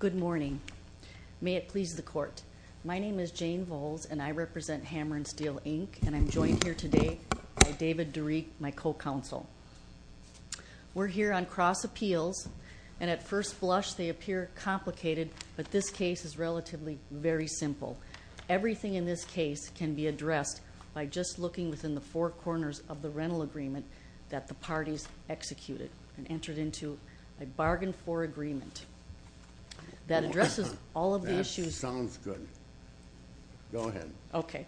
Good morning. May it please the court. My name is Jane Volz and I represent Hammer & Steel Inc. and I'm joined here today by David DeReek, my co-counsel. We're here on cross appeals and at first blush they appear complicated, but this case is relatively very simple. Everything in this case can be addressed by just looking within the four corners of the rental agreement that the parties executed and entered into a bargain for agreement that addresses all of the issues. That sounds good. Go ahead. Okay.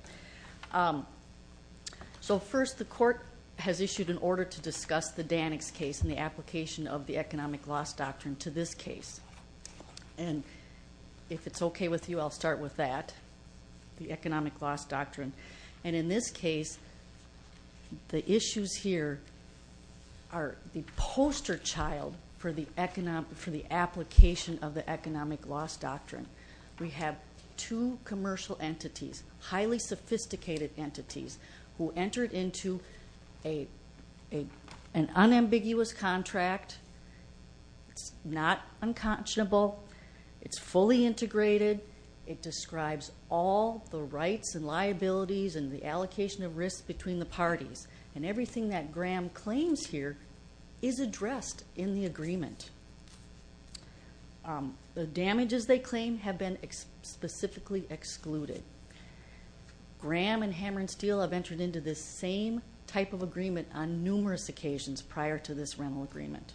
So first the court has issued an order to discuss the Danics case and the application of the economic loss doctrine to this case. And if it's okay with you I'll start with that, the economic loss doctrine. And in this case the issues here are the poster child for the application of the economic loss doctrine. We have two commercial entities, highly sophisticated entities, who entered into an unambiguous contract. It's not unconscionable. It's fully integrated. It describes all the rights and liabilities and the allocation of risk between the parties. And everything that Graham claims here is addressed in the agreement. The damages they claim have been specifically excluded. Graham and Hammer & Steel have entered into this same type of agreement on numerous occasions prior to this rental agreement.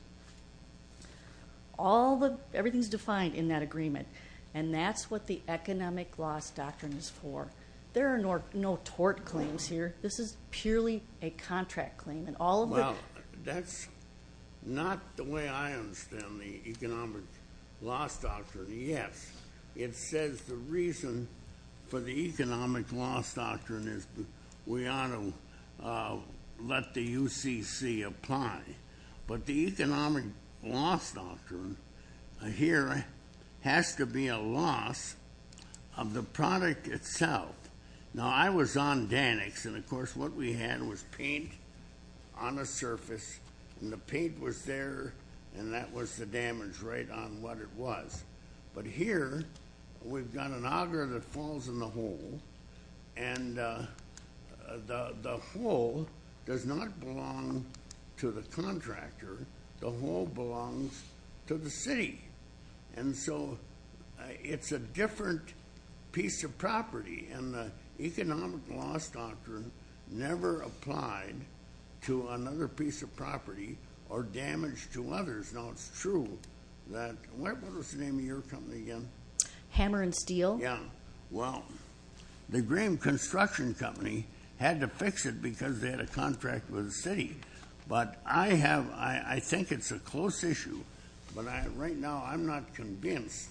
Everything is defined in that agreement. And that's what the economic loss doctrine is for. There are no tort claims here. This is purely a contract claim. Well, that's not the way I understand the economic loss doctrine. Yes, it says the reason for the economic loss doctrine is we ought to let the UCC apply. But the economic loss doctrine here has to be a loss of the product itself. Now, I was on Danix, and of course what we had was paint on a surface. And the paint was there, and that was the damage rate on what it was. But here we've got an auger that falls in the hole, and the hole does not belong to the contractor. The hole belongs to the city. And so it's a different piece of property. And the economic loss doctrine never applied to another piece of property or damage to others. What was the name of your company again? Hammer & Steel. Well, the Graham Construction Company had to fix it because they had a contract with the city. But I think it's a close issue. But right now I'm not convinced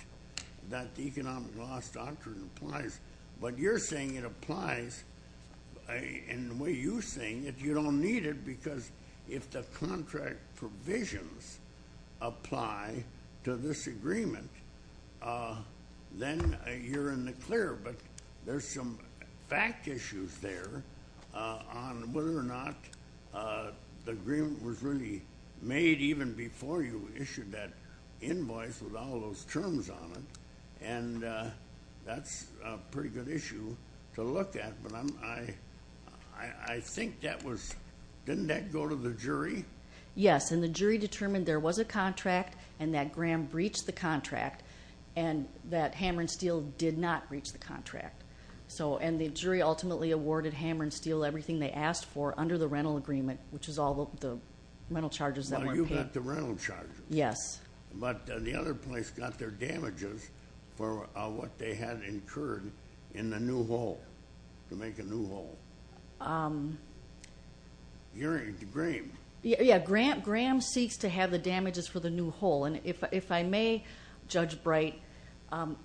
that the economic loss doctrine applies. But you're saying it applies in the way you're saying it. You don't need it because if the contract provisions apply to this agreement, then you're in the clear. But there's some fact issues there on whether or not the agreement was really made even before you issued that invoice with all those terms on it. And that's a pretty good issue to look at. But I think that was – didn't that go to the jury? Yes, and the jury determined there was a contract and that Graham breached the contract and that Hammer & Steel did not breach the contract. And the jury ultimately awarded Hammer & Steel everything they asked for under the rental agreement, which is all the rental charges that weren't paid. Well, you got the rental charges. Yes. But the other place got their damages for what they had incurred in the new hole, to make a new hole. Graham. Yeah, Graham seeks to have the damages for the new hole. And if I may, Judge Bright,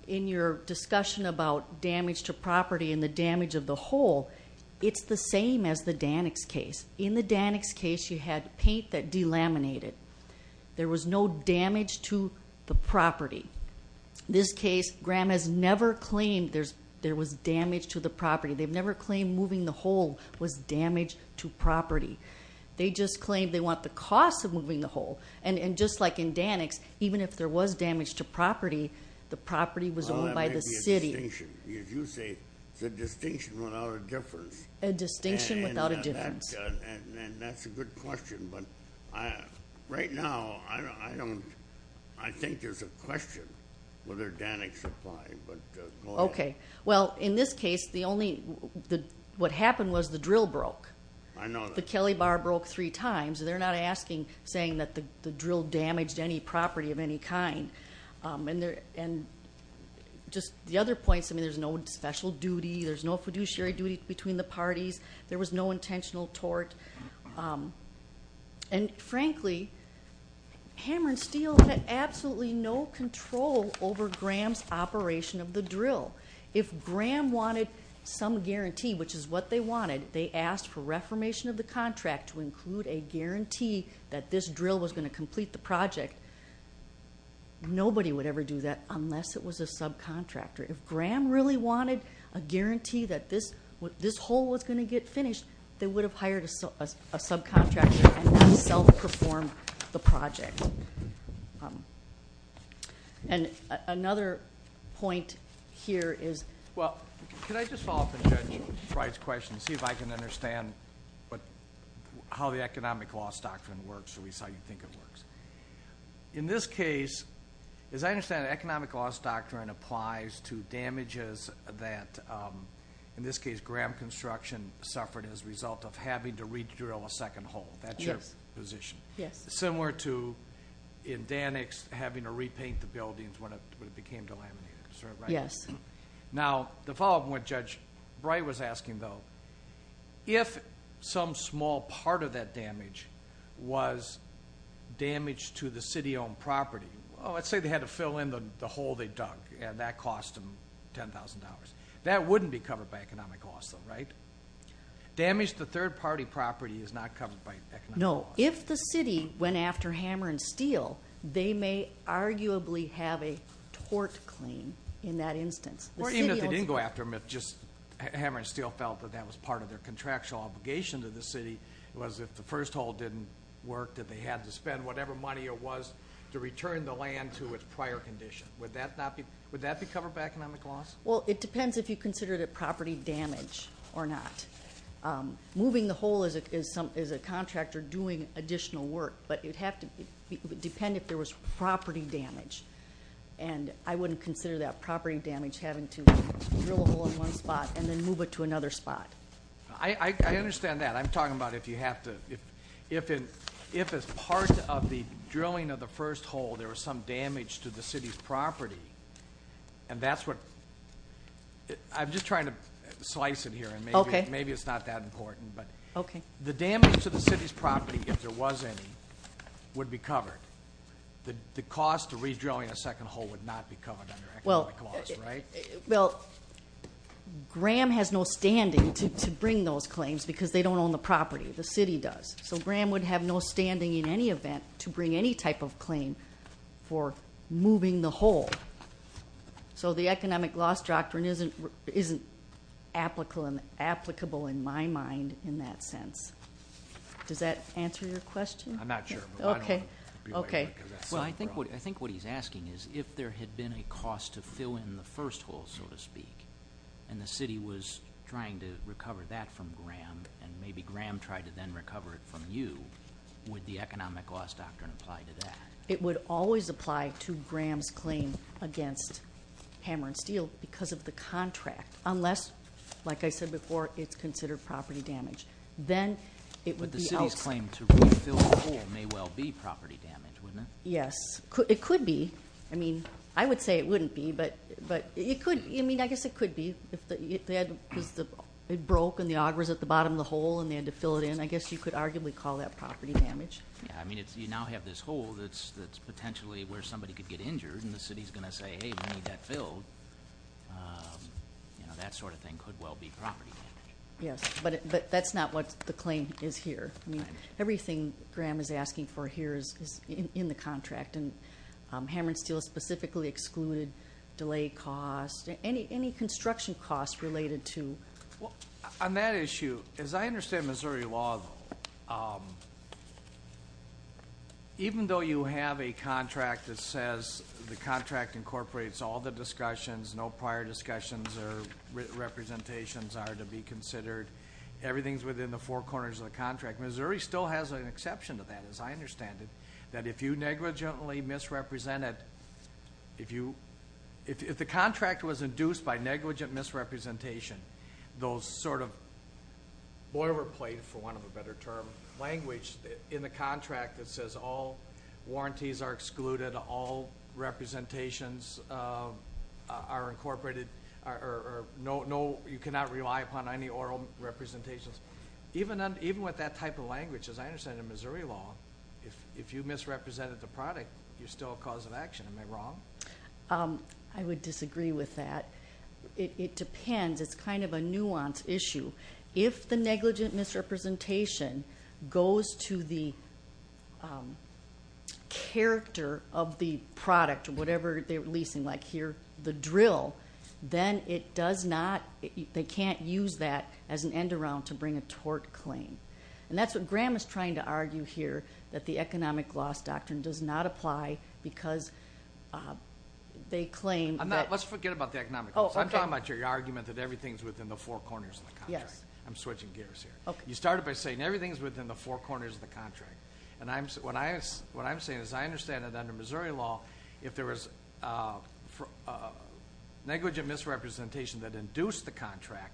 in your discussion about damage to property and the damage of the hole, it's the same as the Dannix case. In the Dannix case, you had paint that delaminated. There was no damage to the property. In this case, Graham has never claimed there was damage to the property. They've never claimed moving the hole was damage to property. They just claimed they want the cost of moving the hole. And just like in Dannix, even if there was damage to property, the property was owned by the city. Well, that may be a distinction. Because you say it's a distinction without a difference. A distinction without a difference. And that's a good question. But right now, I think there's a question whether Dannix applied. But go ahead. Okay. Well, in this case, what happened was the drill broke. I know that. The Kelly Bar broke three times. They're not asking, saying that the drill damaged any property of any kind. And just the other points, I mean, there's no special duty. There's no fiduciary duty between the parties. There was no intentional tort. And, frankly, Hammer and Steel had absolutely no control over Graham's operation of the drill. If Graham wanted some guarantee, which is what they wanted, they asked for reformation of the contract to include a guarantee that this drill was going to complete the project. Nobody would ever do that unless it was a subcontractor. If Graham really wanted a guarantee that this hole was going to get finished, they would have hired a subcontractor and self-performed the project. And another point here is – Well, can I just follow up on Judge Wright's question and see if I can understand how the economic loss doctrine works or at least how you think it works. In this case, as I understand it, economic loss doctrine applies to damages that, in this case, Graham Construction suffered as a result of having to re-drill a second hole. That's your position. Similar to, in Dannix, having to repaint the buildings when it became delaminated. Is that right? Yes. Now, to follow up on what Judge Wright was asking, though, if some small part of that damage was damage to the city-owned property – let's say they had to fill in the hole they dug, and that cost them $10,000. That wouldn't be covered by economic loss, though, right? Damage to third-party property is not covered by economic loss. No. If the city went after Hammer and Steel, they may arguably have a tort claim in that instance. Even if they didn't go after them, if just Hammer and Steel felt that that was part of their contractual obligation to the city, it was if the first hole didn't work that they had to spend whatever money there was to return the land to its prior condition. Would that be covered by economic loss? Well, it depends if you consider it a property damage or not. Moving the hole is a contractor doing additional work, but it would depend if there was property damage. And I wouldn't consider that property damage having to drill a hole in one spot and then move it to another spot. I understand that. I'm talking about if you have to – if as part of the drilling of the first hole there was some damage to the city's property, and that's what – I'm just trying to slice it here, and maybe it's not that important. Okay. The damage to the city's property, if there was any, would be covered. The cost of redrilling a second hole would not be covered under economic loss, right? Well, Graham has no standing to bring those claims because they don't own the property. The city does. So Graham would have no standing in any event to bring any type of claim for moving the hole. So the economic loss doctrine isn't applicable in my mind in that sense. Does that answer your question? I'm not sure. Okay. Well, I think what he's asking is if there had been a cost to fill in the first hole, so to speak, and the city was trying to recover that from Graham, and maybe Graham tried to then recover it from you, would the economic loss doctrine apply to that? It would always apply to Graham's claim against Hammer and Steel because of the contract, unless, like I said before, it's considered property damage. Then it would be else – The city's claim to refill the hole may well be property damage, wouldn't it? Yes. It could be. I mean, I would say it wouldn't be, but it could. I mean, I guess it could be because it broke and the auger was at the bottom of the hole and they had to fill it in. I guess you could arguably call that property damage. Yeah. I mean, you now have this hole that's potentially where somebody could get injured, and the city is going to say, hey, we need that filled. That sort of thing could well be property damage. Yes, but that's not what the claim is here. I mean, everything Graham is asking for here is in the contract, and Hammer and Steel specifically excluded delay costs. Any construction costs related to – On that issue, as I understand Missouri law, even though you have a contract that says the contract incorporates all the discussions, no prior discussions or representations are to be considered, everything is within the four corners of the contract, Missouri still has an exception to that, as I understand it, that if you negligently misrepresented – if the contract was induced by negligent misrepresentation, those sort of boilerplate, for want of a better term, language in the contract that says all warranties are excluded, all representations are incorporated, or you cannot rely upon any oral representations. Even with that type of language, as I understand it in Missouri law, if you misrepresented the product, you're still a cause of action. Am I wrong? I would disagree with that. It depends. It's kind of a nuanced issue. If the negligent misrepresentation goes to the character of the product, or whatever they're leasing, like here the drill, then it does not – they can't use that as an end-around to bring a tort claim. And that's what Graham is trying to argue here, that the economic loss doctrine does not apply because they claim that – Let's forget about the economic loss. I'm talking about your argument that everything is within the four corners of the contract. Yes. I'm switching gears here. You started by saying everything is within the four corners of the contract. What I'm saying is I understand that under Missouri law, if there was negligent misrepresentation that induced the contract,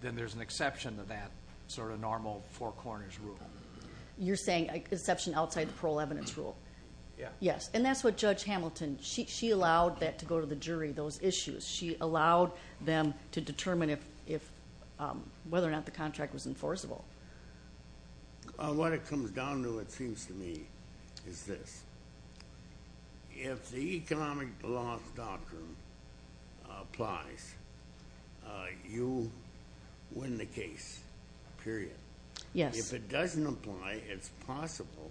then there's an exception to that sort of normal four corners rule. You're saying exception outside the parole evidence rule? Yes. And that's what Judge Hamilton – she allowed that to go to the jury, those issues. She allowed them to determine whether or not the contract was enforceable. What it comes down to, it seems to me, is this. If the economic loss doctrine applies, you win the case, period. Yes. If it doesn't apply, it's possible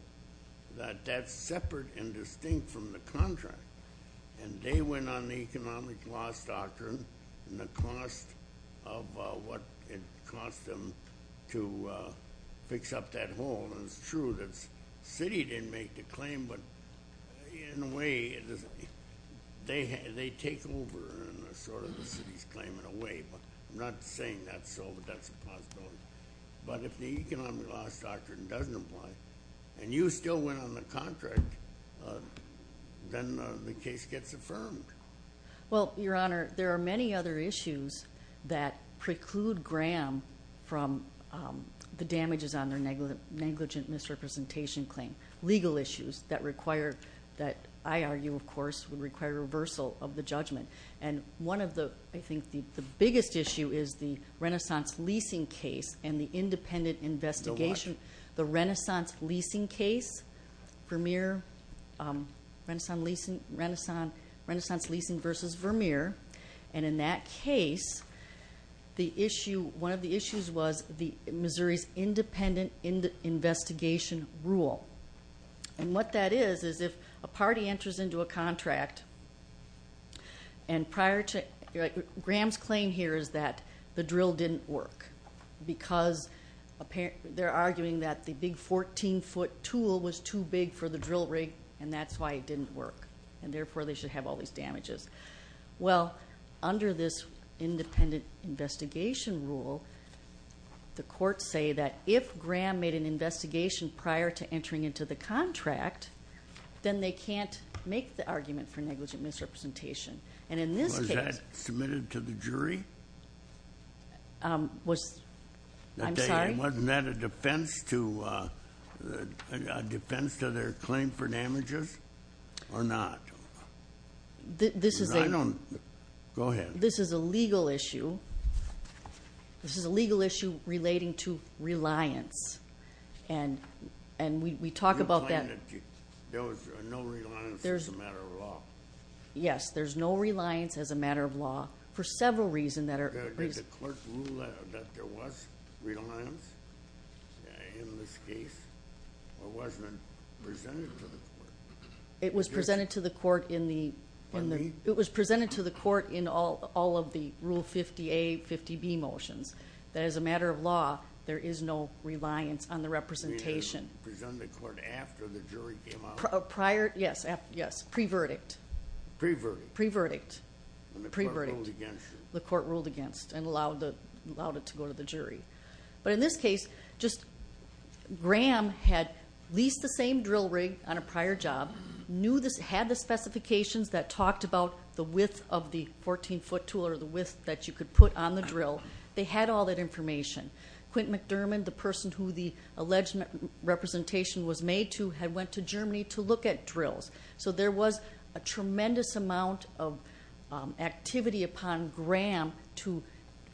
that that's separate and distinct from the contract, and they win on the economic loss doctrine and the cost of what it cost them to fix up that hole. And it's true that the city didn't make the claim, but in a way, they take over sort of the city's claim in a way. I'm not saying that's so, but that's a possibility. But if the economic loss doctrine doesn't apply and you still win on the contract, then the case gets affirmed. Well, Your Honor, there are many other issues that preclude Graham from the damages on their negligent misrepresentation claim, legal issues that require – that I argue, of course, would require reversal of the judgment. And one of the – I think the biggest issue is the Renaissance leasing case and the independent investigation. The what? Leasing case, Vermeer, Renaissance leasing versus Vermeer. And in that case, the issue – one of the issues was Missouri's independent investigation rule. And what that is is if a party enters into a contract and prior to – Graham's claim here is that the drill didn't work because they're arguing that the big 14-foot tool was too big for the drill rig and that's why it didn't work, and therefore, they should have all these damages. Well, under this independent investigation rule, the courts say that if Graham made an investigation prior to entering into the contract, then they can't make the argument for negligent misrepresentation. Was that submitted to the jury? Was – I'm sorry? Wasn't that a defense to – a defense to their claim for damages or not? This is a – I don't – go ahead. This is a legal issue. This is a legal issue relating to reliance. And we talk about that – Your claim that there was no reliance as a matter of law. Yes, there's no reliance as a matter of law for several reasons that are – Did the court rule that there was reliance in this case or wasn't it presented to the court? It was presented to the court in the – Pardon me? It was presented to the court in all of the Rule 50A, 50B motions. That as a matter of law, there is no reliance on the representation. You mean it was presented to the court after the jury came out? Prior – yes, yes, pre-verdict. Pre-verdict. Pre-verdict. The court ruled against it. The court ruled against it and allowed it to go to the jury. But in this case, just – Graham had leased the same drill rig on a prior job, had the specifications that talked about the width of the 14-foot tool or the width that you could put on the drill. They had all that information. Quint McDermott, the person who the alleged representation was made to, had went to Germany to look at drills. So there was a tremendous amount of activity upon Graham to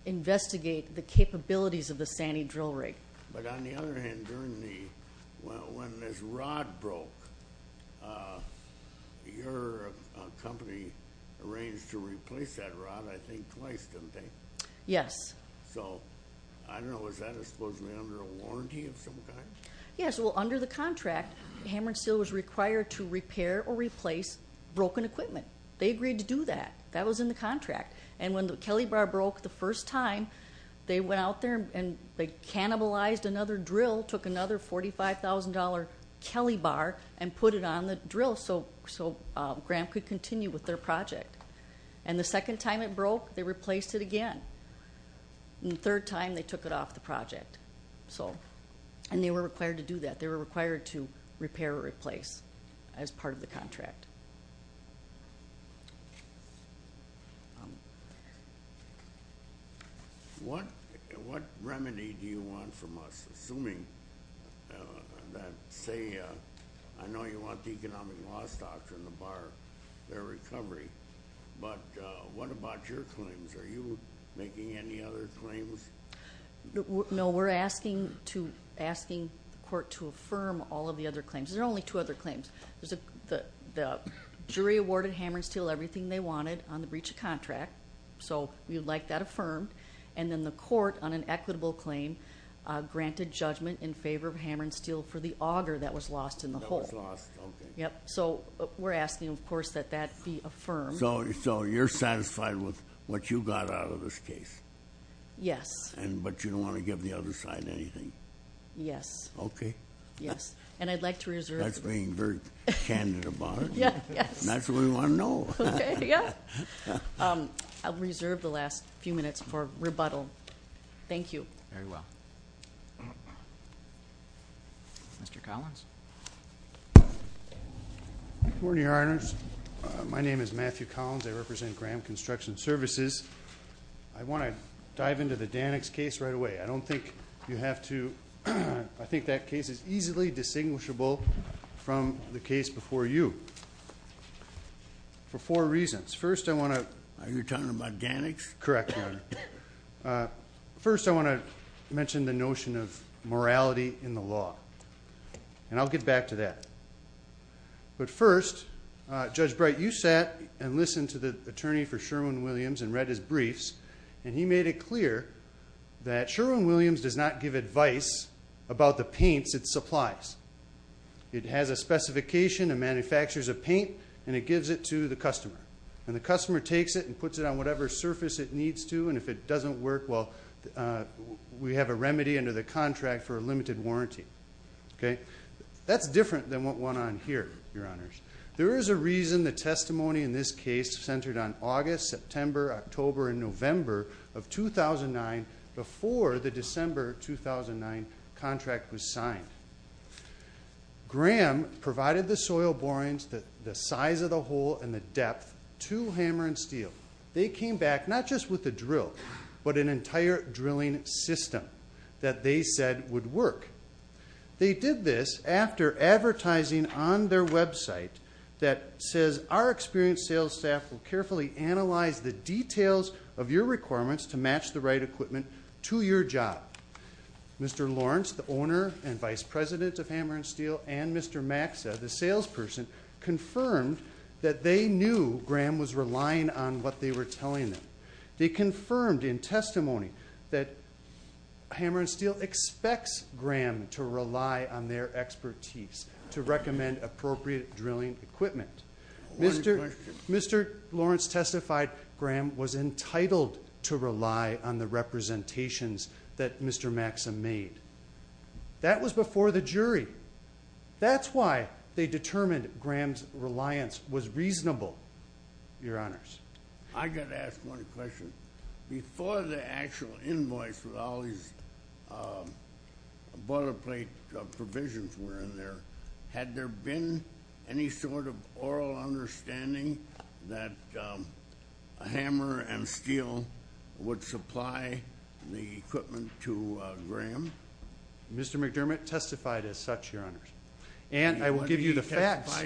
investigate the capabilities of the Sani drill rig. But on the other hand, during the – when this rod broke, your company arranged to replace that rod, I think, twice, didn't they? Yes. So, I don't know, was that supposedly under a warranty of some kind? Yes. Well, under the contract, Hammer and Steel was required to repair or replace broken equipment. They agreed to do that. That was in the contract. And when the Kelly bar broke the first time, they went out there and they cannibalized another drill, took another $45,000 Kelly bar and put it on the drill so Graham could continue with their project. And the second time it broke, they replaced it again. And the third time, they took it off the project. And they were required to do that. They were required to repair or replace as part of the contract. What remedy do you want from us, assuming that, say, I know you want the economic loss doctrine to bar their recovery, but what about your claims? Are you making any other claims? No, we're asking the court to affirm all of the other claims. There are only two other claims. The jury awarded Hammer and Steel everything they wanted on the breach of contract, so we would like that affirmed. And then the court, on an equitable claim, granted judgment in favor of Hammer and Steel for the auger that was lost in the hole. That was lost, okay. Yep. So, we're asking, of course, that that be affirmed. So, you're satisfied with what you got out of this case? Yes. But you don't want to give the other side anything? Yes. Okay. Yes. And I'd like to reserve. That's being very candid about it. Yeah, yes. That's what we want to know. Okay, yeah. I'll reserve the last few minutes for rebuttal. Thank you. Very well. Mr. Collins? Good morning, Your Honors. My name is Matthew Collins. I represent Graham Construction Services. I want to dive into the Dannix case right away. I don't think you have to. I think that case is easily distinguishable from the case before you for four reasons. First, I want to – Are you talking about Dannix? Correct, Your Honor. First, I want to mention the notion of morality in the law, and I'll get back to that. But first, Judge Bright, you sat and listened to the attorney for Sherwin-Williams and read his briefs, and he made it clear that Sherwin-Williams does not give advice about the paints it supplies. It has a specification, it manufactures a paint, and it gives it to the customer. And the customer takes it and puts it on whatever surface it needs to, and if it doesn't work, well, we have a remedy under the contract for a limited warranty. That's different than what went on here, Your Honors. There is a reason the testimony in this case centered on August, September, October, and November of 2009 before the December 2009 contract was signed. Graham provided the soil borings, the size of the hole, and the depth to Hammer and Steel. They came back not just with a drill, but an entire drilling system that they said would work. They did this after advertising on their website that says, Our experienced sales staff will carefully analyze the details of your requirements to match the right equipment to your job. Mr. Lawrence, the owner and vice president of Hammer and Steel, and Mr. Maxa, the salesperson, confirmed that they knew Graham was relying on what they were telling them. They confirmed in testimony that Hammer and Steel expects Graham to rely on their expertise to recommend appropriate drilling equipment. Mr. Lawrence testified Graham was entitled to rely on the representations that Mr. Maxa made. That was before the jury. That's why they determined Graham's reliance was reasonable, Your Honors. I've got to ask one question. Before the actual invoice with all these boilerplate provisions were in there, had there been any sort of oral understanding that Hammer and Steel would supply the equipment to Graham? Mr. McDermott testified as such, Your Honors. And I will give you the facts.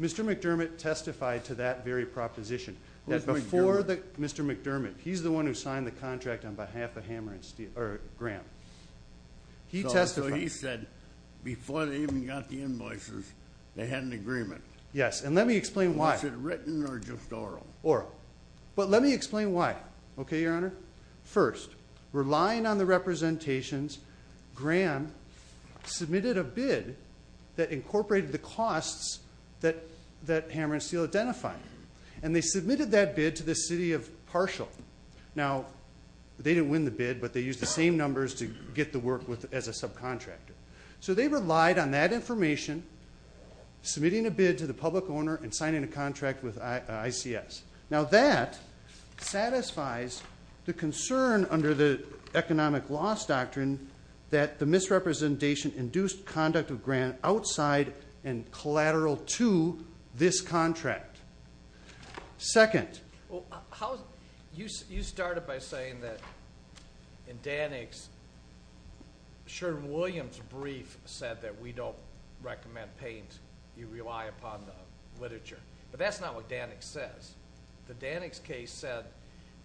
Mr. McDermott testified to that very proposition. Who's McDermott? Mr. McDermott. He's the one who signed the contract on behalf of Hammer and Steel, or Graham. So he said before they even got the invoices, they had an agreement. Yes, and let me explain why. Was it written or just oral? Oral. But let me explain why. Okay, Your Honor? First, relying on the representations, Graham submitted a bid that incorporated the costs that Hammer and Steel identified. And they submitted that bid to the city of Parshall. Now, they didn't win the bid, but they used the same numbers to get the work as a subcontractor. So they relied on that information, submitting a bid to the public owner, and signing a contract with ICS. Now, that satisfies the concern under the economic loss doctrine that the misrepresentation induced conduct of Graham outside and collateral to this contract. Second. You started by saying that in Danick's, Sheridan Williams' brief said that we don't recommend paint. You rely upon the literature. But that's not what Danick says. The Danick's case said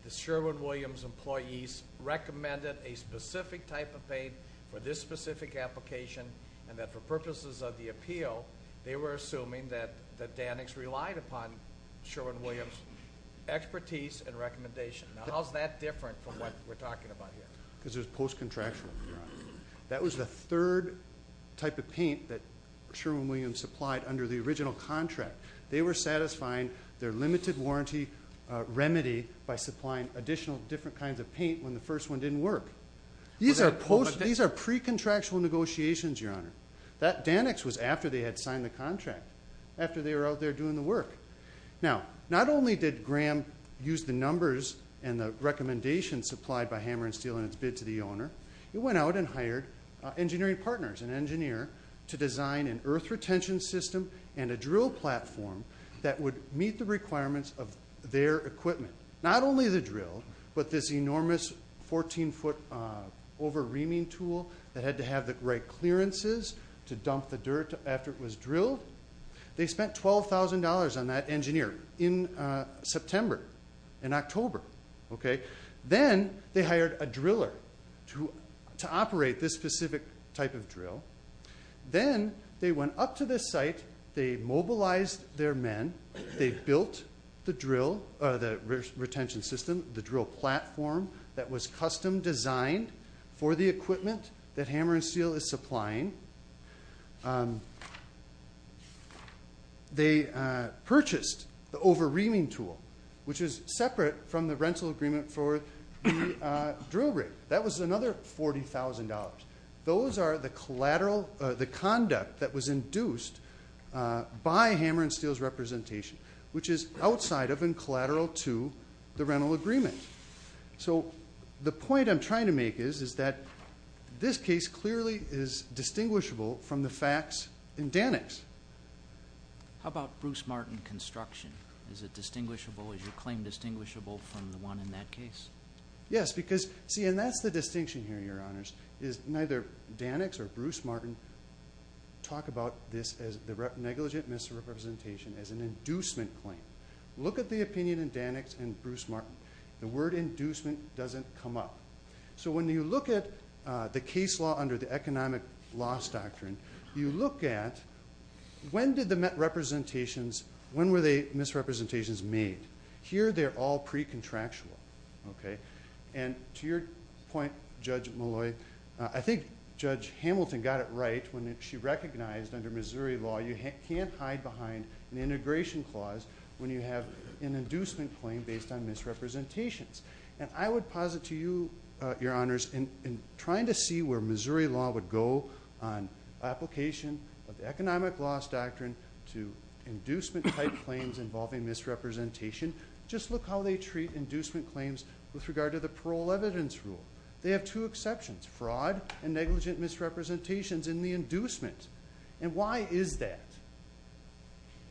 that Sheridan Williams' employees recommended a specific type of paint for this specific application, and that for purposes of the appeal, they were assuming that Danick's relied upon Sheridan Williams' expertise and recommendation. Now, how is that different from what we're talking about here? Because it was post-contractual. That was the third type of paint that Sheridan Williams supplied under the original contract. They were satisfying their limited warranty remedy by supplying additional different kinds of paint when the first one didn't work. These are pre-contractual negotiations, Your Honor. Danick's was after they had signed the contract, after they were out there doing the work. Now, not only did Graham use the numbers and the recommendations supplied by Hammer and Steel in its bid to the owner, it went out and hired engineering partners, an engineer, to design an earth retention system and a drill platform that would meet the requirements of their equipment. Not only the drill, but this enormous 14-foot over-reaming tool that had to have the right clearances to dump the dirt after it was drilled. They spent $12,000 on that engineer in September, in October. Then they hired a driller to operate this specific type of drill. Then they went up to this site, they mobilized their men, they built the drill, the retention system, the drill platform that was custom designed for the equipment that Hammer and Steel is supplying. They purchased the over-reaming tool, which is separate from the rental agreement for the drill rig. That was another $40,000. Those are the conduct that was induced by Hammer and Steel's representation, which is outside of and collateral to the rental agreement. The point I'm trying to make is that this case clearly is distinguishable from the facts in Danix. How about Bruce Martin construction? Is it distinguishable, is your claim distinguishable from the one in that case? Yes, because, see, and that's the distinction here, Your Honors, is neither Danix or Bruce Martin talk about this as the negligent misrepresentation, as an inducement claim. Look at the opinion in Danix and Bruce Martin. The word inducement doesn't come up. When you look at the case law under the economic loss doctrine, you look at when were the misrepresentations made. Here they're all pre-contractual. To your point, Judge Malloy, I think Judge Hamilton got it right when she recognized under Missouri law you can't hide behind an integration clause when you have an inducement claim based on misrepresentations. I would posit to you, Your Honors, in trying to see where Missouri law would go on application of the economic loss doctrine to inducement-type claims involving misrepresentation, just look how they treat inducement claims with regard to the parole evidence rule. They have two exceptions, fraud and negligent misrepresentations in the inducement. And why is that?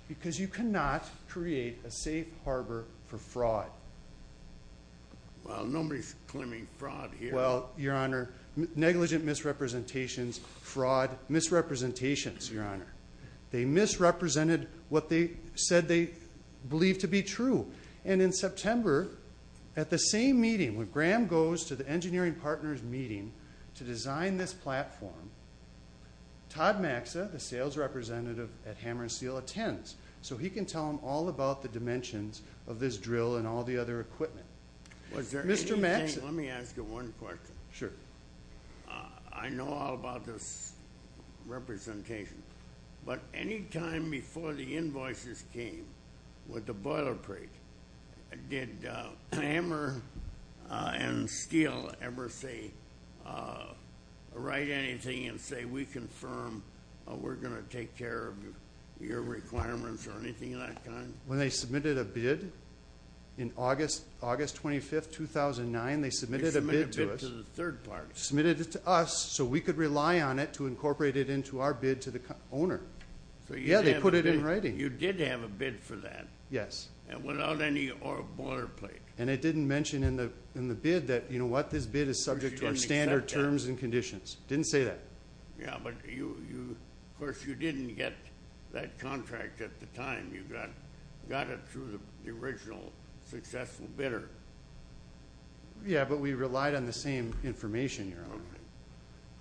Because you cannot create a safe harbor for fraud. Well, nobody's claiming fraud here. Well, Your Honor, negligent misrepresentations, fraud, misrepresentations, Your Honor. They misrepresented what they said they believed to be true. And in September, at the same meeting, when Graham goes to the engineering partners meeting to design this platform, Todd Maxa, the sales representative at Hammer & Steel, attends, so he can tell them all about the dimensions of this drill and all the other equipment. Mr. Maxa. Let me ask you one question. Sure. I know all about this representation, but any time before the invoices came with the boiler break, did Hammer & Steel ever say, write anything and say, we confirm we're going to take care of your requirements or anything of that kind? When they submitted a bid in August 25, 2009, they submitted a bid to us. They submitted a bid to the third party. Submitted it to us so we could rely on it to incorporate it into our bid to the owner. Yeah, they put it in writing. You did have a bid for that. Yes. And without any boiler plate. And it didn't mention in the bid that, you know what, this bid is subject to our standard terms and conditions. Didn't say that. Yeah, but, of course, you didn't get that contract at the time. You got it through the original successful bidder. Yeah, but we relied on the same information.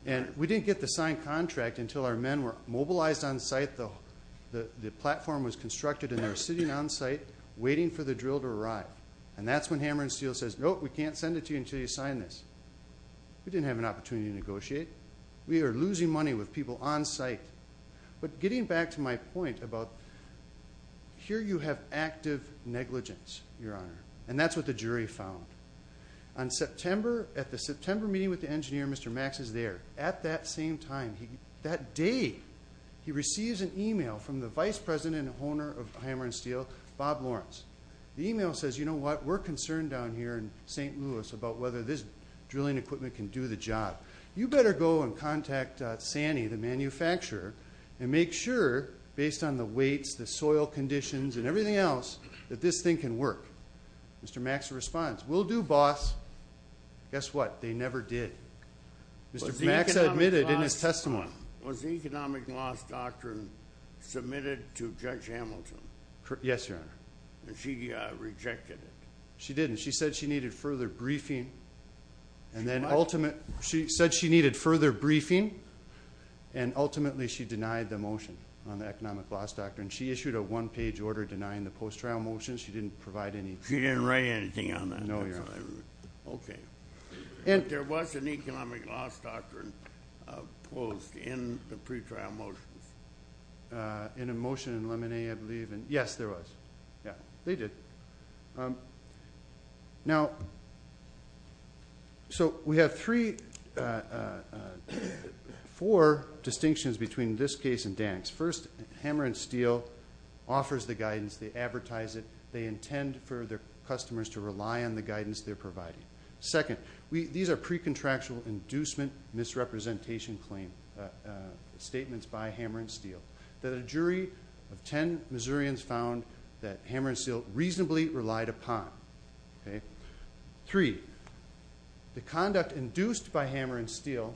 And we didn't get the signed contract until our men were mobilized on site. The platform was constructed and they were sitting on site waiting for the drill to arrive. And that's when Hammer & Steel says, nope, we can't send it to you until you sign this. We didn't have an opportunity to negotiate. We are losing money with people on site. But getting back to my point about here you have active negligence, Your Honor, and that's what the jury found. On September, at the September meeting with the engineer, Mr. Max is there. At that same time, that day, he receives an e-mail from the vice president and owner of Hammer & Steel, Bob Lawrence. The e-mail says, you know what, we're concerned down here in St. Louis about whether this drilling equipment can do the job. You better go and contact Sanny, the manufacturer, and make sure, based on the weights, the soil conditions, and everything else, that this thing can work. Mr. Max responds, we'll do, boss. Guess what? They never did. Mr. Max admitted in his testimony. Was the Economic Loss Doctrine submitted to Judge Hamilton? Yes, Your Honor. And she rejected it? She didn't. She said she needed further briefing, and then ultimately she denied the motion on the Economic Loss Doctrine. She issued a one-page order denying the post-trial motion. She didn't provide anything. She didn't write anything on that? No, Your Honor. Okay. There was an Economic Loss Doctrine posed in the pretrial motions? In a motion in Lemonnier, I believe. Yes, there was. Yeah, they did. Now, so we have three, four distinctions between this case and Dank's. First, Hammer & Steel offers the guidance. They advertise it. They intend for their customers to rely on the guidance they're providing. Second, these are pre-contractual inducement misrepresentation statements by Hammer & Steel, that a jury of 10 Missourians found that Hammer & Steel reasonably relied upon. Three, the conduct induced by Hammer & Steel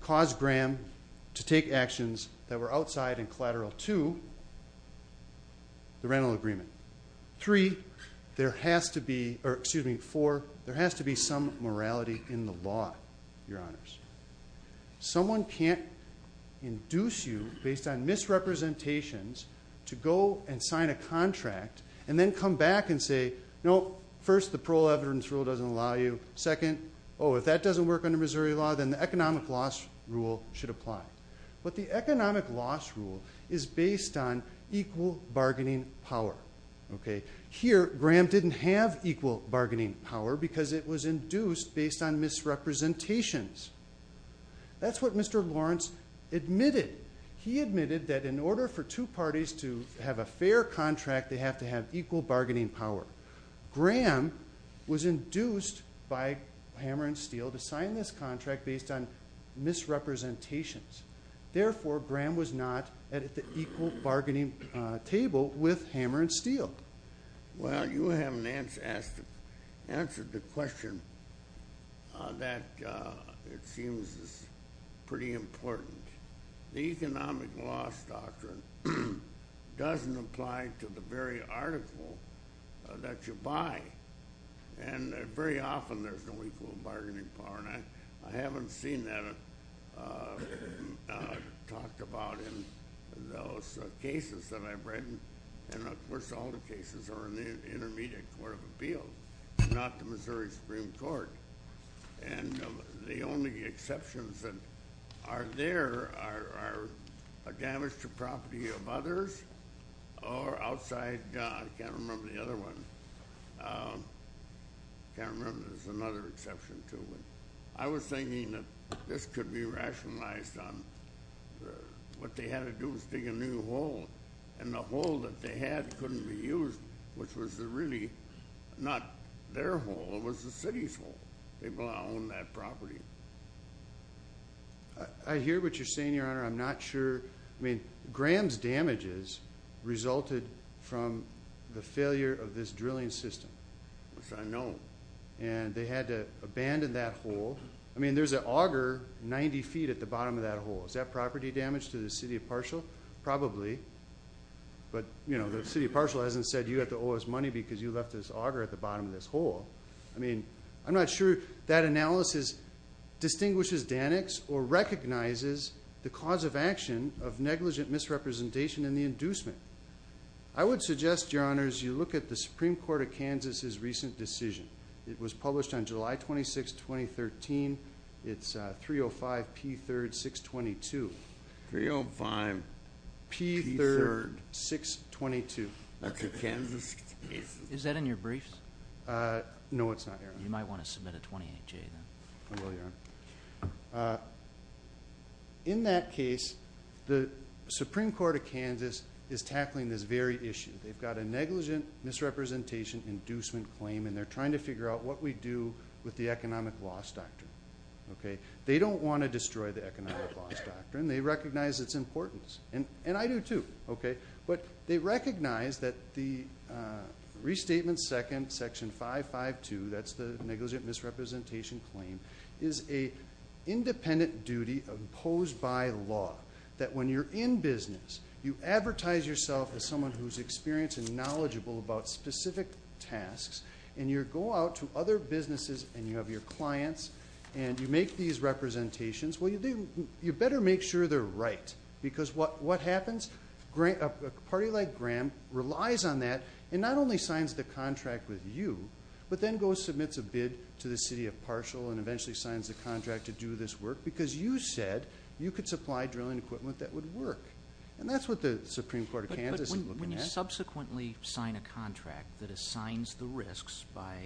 caused Graham to take actions that were outside and collateral. Two, the rental agreement. Three, there has to be, or excuse me, four, there has to be some morality in the law, Your Honors. Someone can't induce you, based on misrepresentations, to go and sign a contract and then come back and say, no, first, the parole evidence rule doesn't allow you. Second, oh, if that doesn't work under Missouri law, then the economic loss rule should apply. But the economic loss rule is based on equal bargaining power. Here, Graham didn't have equal bargaining power because it was induced based on misrepresentations. That's what Mr. Lawrence admitted. He admitted that in order for two parties to have a fair contract, they have to have equal bargaining power. Graham was induced by Hammer & Steel to sign this contract based on misrepresentations. Therefore, Graham was not at the equal bargaining table with Hammer & Steel. Well, you haven't answered the question that it seems is pretty important. The economic loss doctrine doesn't apply to the very article that you buy. Very often, there's no equal bargaining power. I haven't seen that talked about in those cases that I've read. Of course, all the cases are in the Intermediate Court of Appeals, not the Missouri Supreme Court. The only exceptions that are there are damage to property of others or outside. I can't remember the other one. I can't remember. There's another exception, too. I was thinking that this could be rationalized on what they had to do was dig a new hole. The hole that they had couldn't be used, which was really not their hole. It was the city's hole. People don't own that property. I hear what you're saying, Your Honor. I'm not sure. I mean, Graham's damages resulted from the failure of this drilling system. Which I know. They had to abandon that hole. I mean, there's an auger 90 feet at the bottom of that hole. Is that property damage to the city of Parshall? Probably. But, you know, the city of Parshall hasn't said you have to owe us money because you left this auger at the bottom of this hole. I mean, I'm not sure that analysis distinguishes Danix or recognizes the cause of action of negligent misrepresentation and the inducement. I would suggest, Your Honors, you look at the Supreme Court of Kansas' recent decision. It was published on July 26, 2013. It's 305P3-622. 305P3-622. That's in Kansas? Is that in your briefs? No, it's not, Your Honor. You might want to submit a 28-J, then. I will, Your Honor. In that case, the Supreme Court of Kansas is tackling this very issue. They've got a negligent misrepresentation inducement claim, and they're trying to figure out what we do with the economic loss doctrine. They don't want to destroy the economic loss doctrine. They recognize its importance. And I do, too. But they recognize that the Restatement Second, Section 552, that's the negligent misrepresentation claim, is an independent duty imposed by law that when you're in business, you advertise yourself as someone who's experienced and knowledgeable about specific tasks, and you go out to other businesses and you have your clients, and you make these representations, well, you better make sure they're right. Because what happens? A party like Graham relies on that and not only signs the contract with you, but then goes and submits a bid to the city of Parshall and eventually signs the contract to do this work, because you said you could supply drilling equipment that would work. And that's what the Supreme Court of Kansas is looking at. But when you subsequently sign a contract that assigns the risks by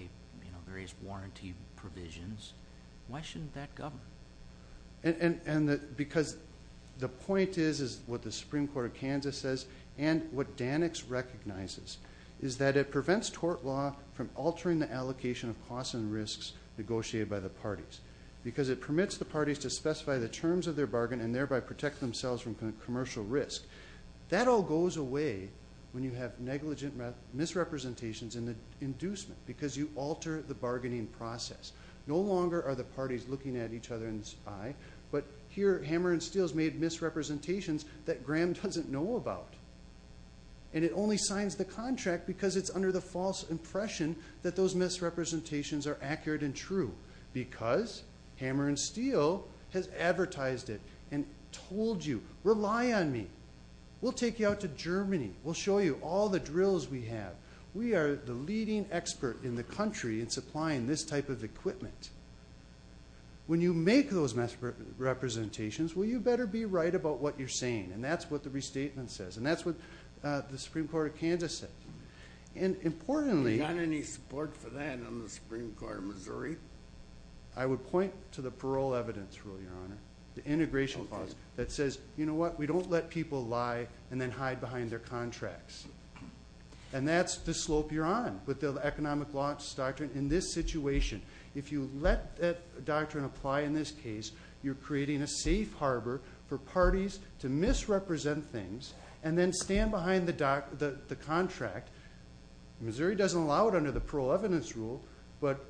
various warranty provisions, why shouldn't that govern? Because the point is what the Supreme Court of Kansas says and what Danix recognizes is that it prevents tort law from altering the allocation of costs and risks negotiated by the parties, because it permits the parties to specify the terms of their bargain and thereby protect themselves from commercial risk. That all goes away when you have negligent misrepresentations in the inducement, because you alter the bargaining process. No longer are the parties looking at each other in the eye, but here Hammer and Steele's made misrepresentations that Graham doesn't know about. And it only signs the contract because it's under the false impression that those misrepresentations are accurate and true, because Hammer and Steele has advertised it and told you, rely on me. We'll take you out to Germany. We'll show you all the drills we have. We are the leading expert in the country in supplying this type of equipment. When you make those misrepresentations, well, you better be right about what you're saying. And that's what the restatement says. And that's what the Supreme Court of Kansas said. And importantly... You got any support for that on the Supreme Court of Missouri? I would point to the parole evidence rule, Your Honor, the integration clause that says, you know what, we don't let people lie and then hide behind their contracts. And that's the slope you're on with the economic law doctrine in this situation. If you let that doctrine apply in this case, you're creating a safe harbor for parties to misrepresent things and then stand behind the contract. Missouri doesn't allow it under the parole evidence rule, but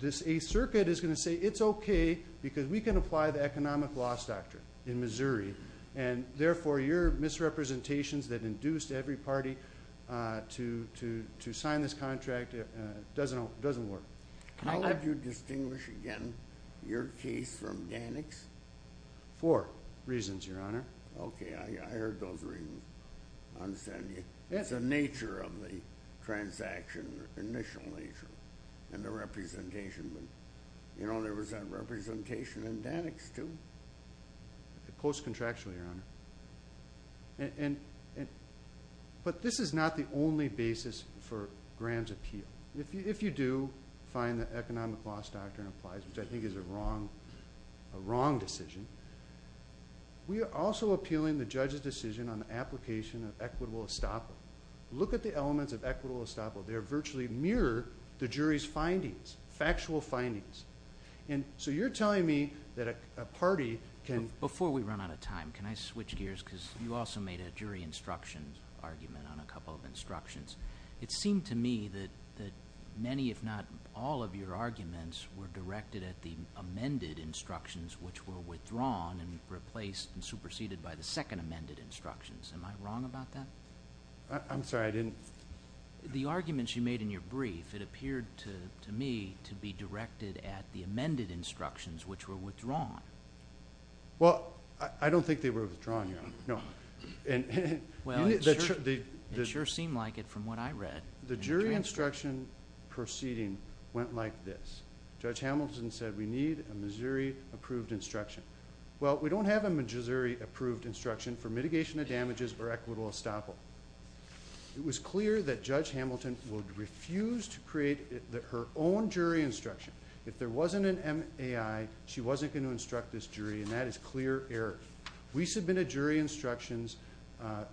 this Eighth Circuit is going to say it's okay because we can apply the economic law doctrine in Missouri, and therefore your misrepresentations that induced every party to sign this contract doesn't work. How would you distinguish, again, your case from Danik's? Four reasons, Your Honor. Okay, I heard those reasons. I understand you. That's the nature of the transaction, the initial nature and the representation. You know, there was that representation in Danik's too. Post-contractual, Your Honor. But this is not the only basis for Graham's appeal. If you do find the economic law doctrine applies, which I think is a wrong decision, we are also appealing the judge's decision on the application of equitable estoppel. Look at the elements of equitable estoppel. They virtually mirror the jury's findings, factual findings. So you're telling me that a party can— Before we run out of time, can I switch gears? Because you also made a jury instruction argument on a couple of instructions. It seemed to me that many, if not all, of your arguments were directed at the amended instructions, which were withdrawn and replaced and superseded by the second amended instructions. Am I wrong about that? I'm sorry, I didn't— The arguments you made in your brief, it appeared to me to be directed at the amended instructions, which were withdrawn. Well, I don't think they were withdrawn, Your Honor. It sure seemed like it from what I read. The jury instruction proceeding went like this. Judge Hamilton said we need a Missouri-approved instruction. Well, we don't have a Missouri-approved instruction for mitigation of damages or equitable estoppel. It was clear that Judge Hamilton would refuse to create her own jury instruction. If there wasn't an MAI, she wasn't going to instruct this jury, and that is clear error. We submitted jury instructions.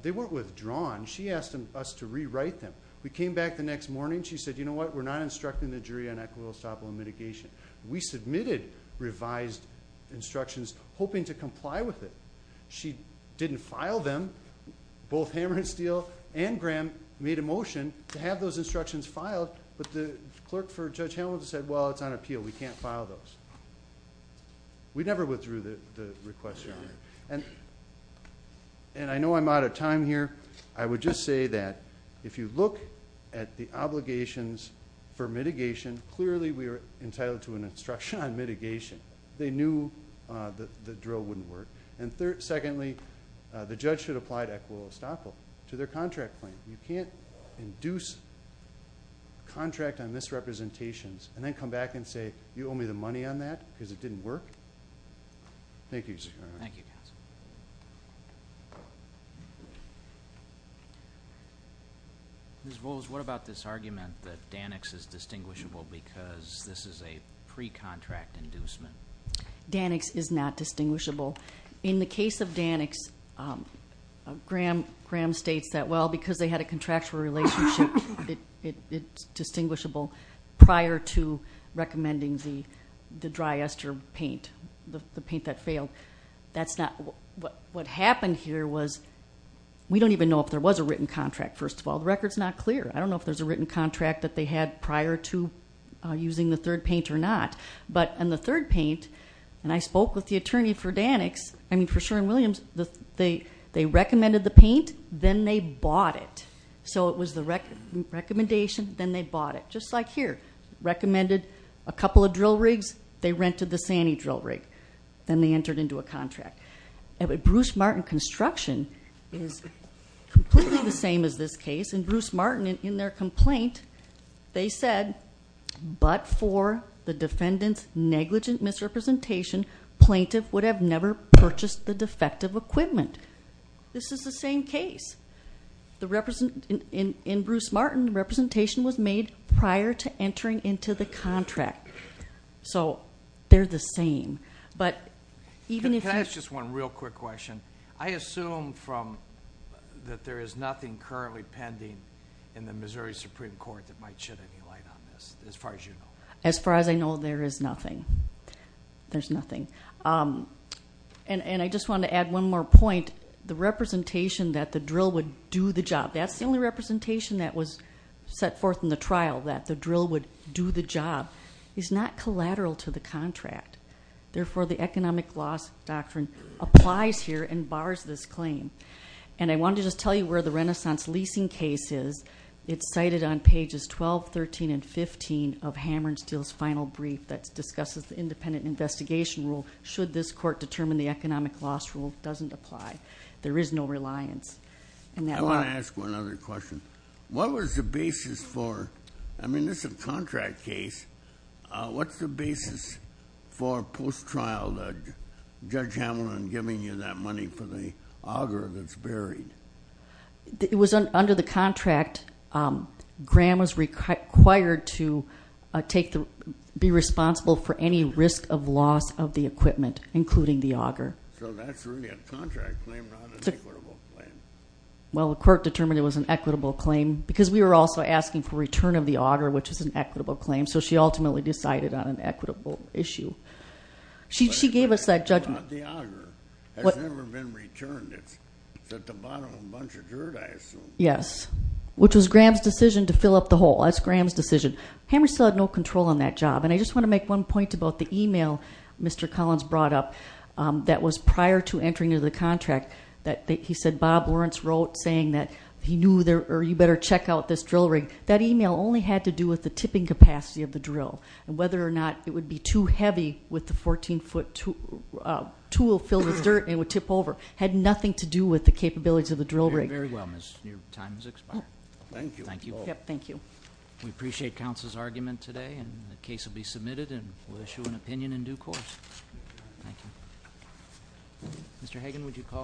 They weren't withdrawn. She asked us to rewrite them. We came back the next morning. She said, you know what, we're not instructing the jury on equitable estoppel and mitigation. We submitted revised instructions hoping to comply with it. She didn't file them. Both Hammer and Steele and Graham made a motion to have those instructions filed, but the clerk for Judge Hamilton said, well, it's on appeal. We can't file those. We never withdrew the request, Your Honor. And I know I'm out of time here. I would just say that if you look at the obligations for mitigation, clearly we were entitled to an instruction on mitigation. They knew the drill wouldn't work. And secondly, the judge should apply to equitable estoppel to their contract claim. You can't induce contract on misrepresentations and then come back and say, you owe me the money on that because it didn't work. Thank you, Your Honor. Thank you, counsel. Ms. Bowles, what about this argument that Danix is distinguishable because this is a pre-contract inducement? Danix is not distinguishable. In the case of Danix, Graham states that, well, because they had a contractual relationship, it's distinguishable prior to recommending the dry ester paint, the paint that failed. What happened here was we don't even know if there was a written contract, first of all. The record's not clear. I don't know if there's a written contract that they had prior to using the third paint or not. But in the third paint, and I spoke with the attorney for Danix, I mean for Sherwin-Williams, they recommended the paint, then they bought it. So it was the recommendation, then they bought it. Just like here, recommended a couple of drill rigs, they rented the Sani drill rig. Then they entered into a contract. Bruce Martin Construction is completely the same as this case. In Bruce Martin, in their complaint, they said, but for the defendant's negligent misrepresentation, plaintiff would have never purchased the defective equipment. This is the same case. In Bruce Martin, representation was made prior to entering into the contract. So they're the same. Can I ask just one real quick question? I assume that there is nothing currently pending in the Missouri Supreme Court that might shed any light on this, as far as you know. As far as I know, there is nothing. There's nothing. And I just want to add one more point. The representation that the drill would do the job, that's the only representation that was set forth in the trial, that the drill would do the job, is not collateral to the contract. Therefore, the economic loss doctrine applies here and bars this claim. And I wanted to just tell you where the renaissance leasing case is. It's cited on pages 12, 13, and 15 of Hammer and Steele's final brief that discusses the independent investigation rule, should this court determine the economic loss rule doesn't apply. There is no reliance. I want to ask one other question. What was the basis for, I mean, this is a contract case. What's the basis for post-trial, Judge Hamilton giving you that money for the auger that's buried? It was under the contract. Graham was required to be responsible for any risk of loss of the equipment, including the auger. So that's really a contract claim, not an equitable claim. Well, the court determined it was an equitable claim because we were also asking for return of the auger, which is an equitable claim. So she ultimately decided on an equitable issue. She gave us that judgment. But the auger has never been returned. It's at the bottom of a bunch of dirt, I assume. Yes, which was Graham's decision to fill up the hole. That's Graham's decision. Hammer and Steele had no control on that job. And I just want to make one point about the e-mail Mr. Collins brought up that was prior to entering into the contract that he said Bob Lawrence wrote, saying that you better check out this drill rig. That e-mail only had to do with the tipping capacity of the drill and whether or not it would be too heavy with the 14-foot tool filled with dirt and it would tip over. It had nothing to do with the capabilities of the drill rig. Very well, Miss. Your time has expired. Thank you. Thank you. We appreciate counsel's argument today, and the case will be submitted, and we'll issue an opinion in due course. Thank you. Mr. Hagan, would you call our next witness?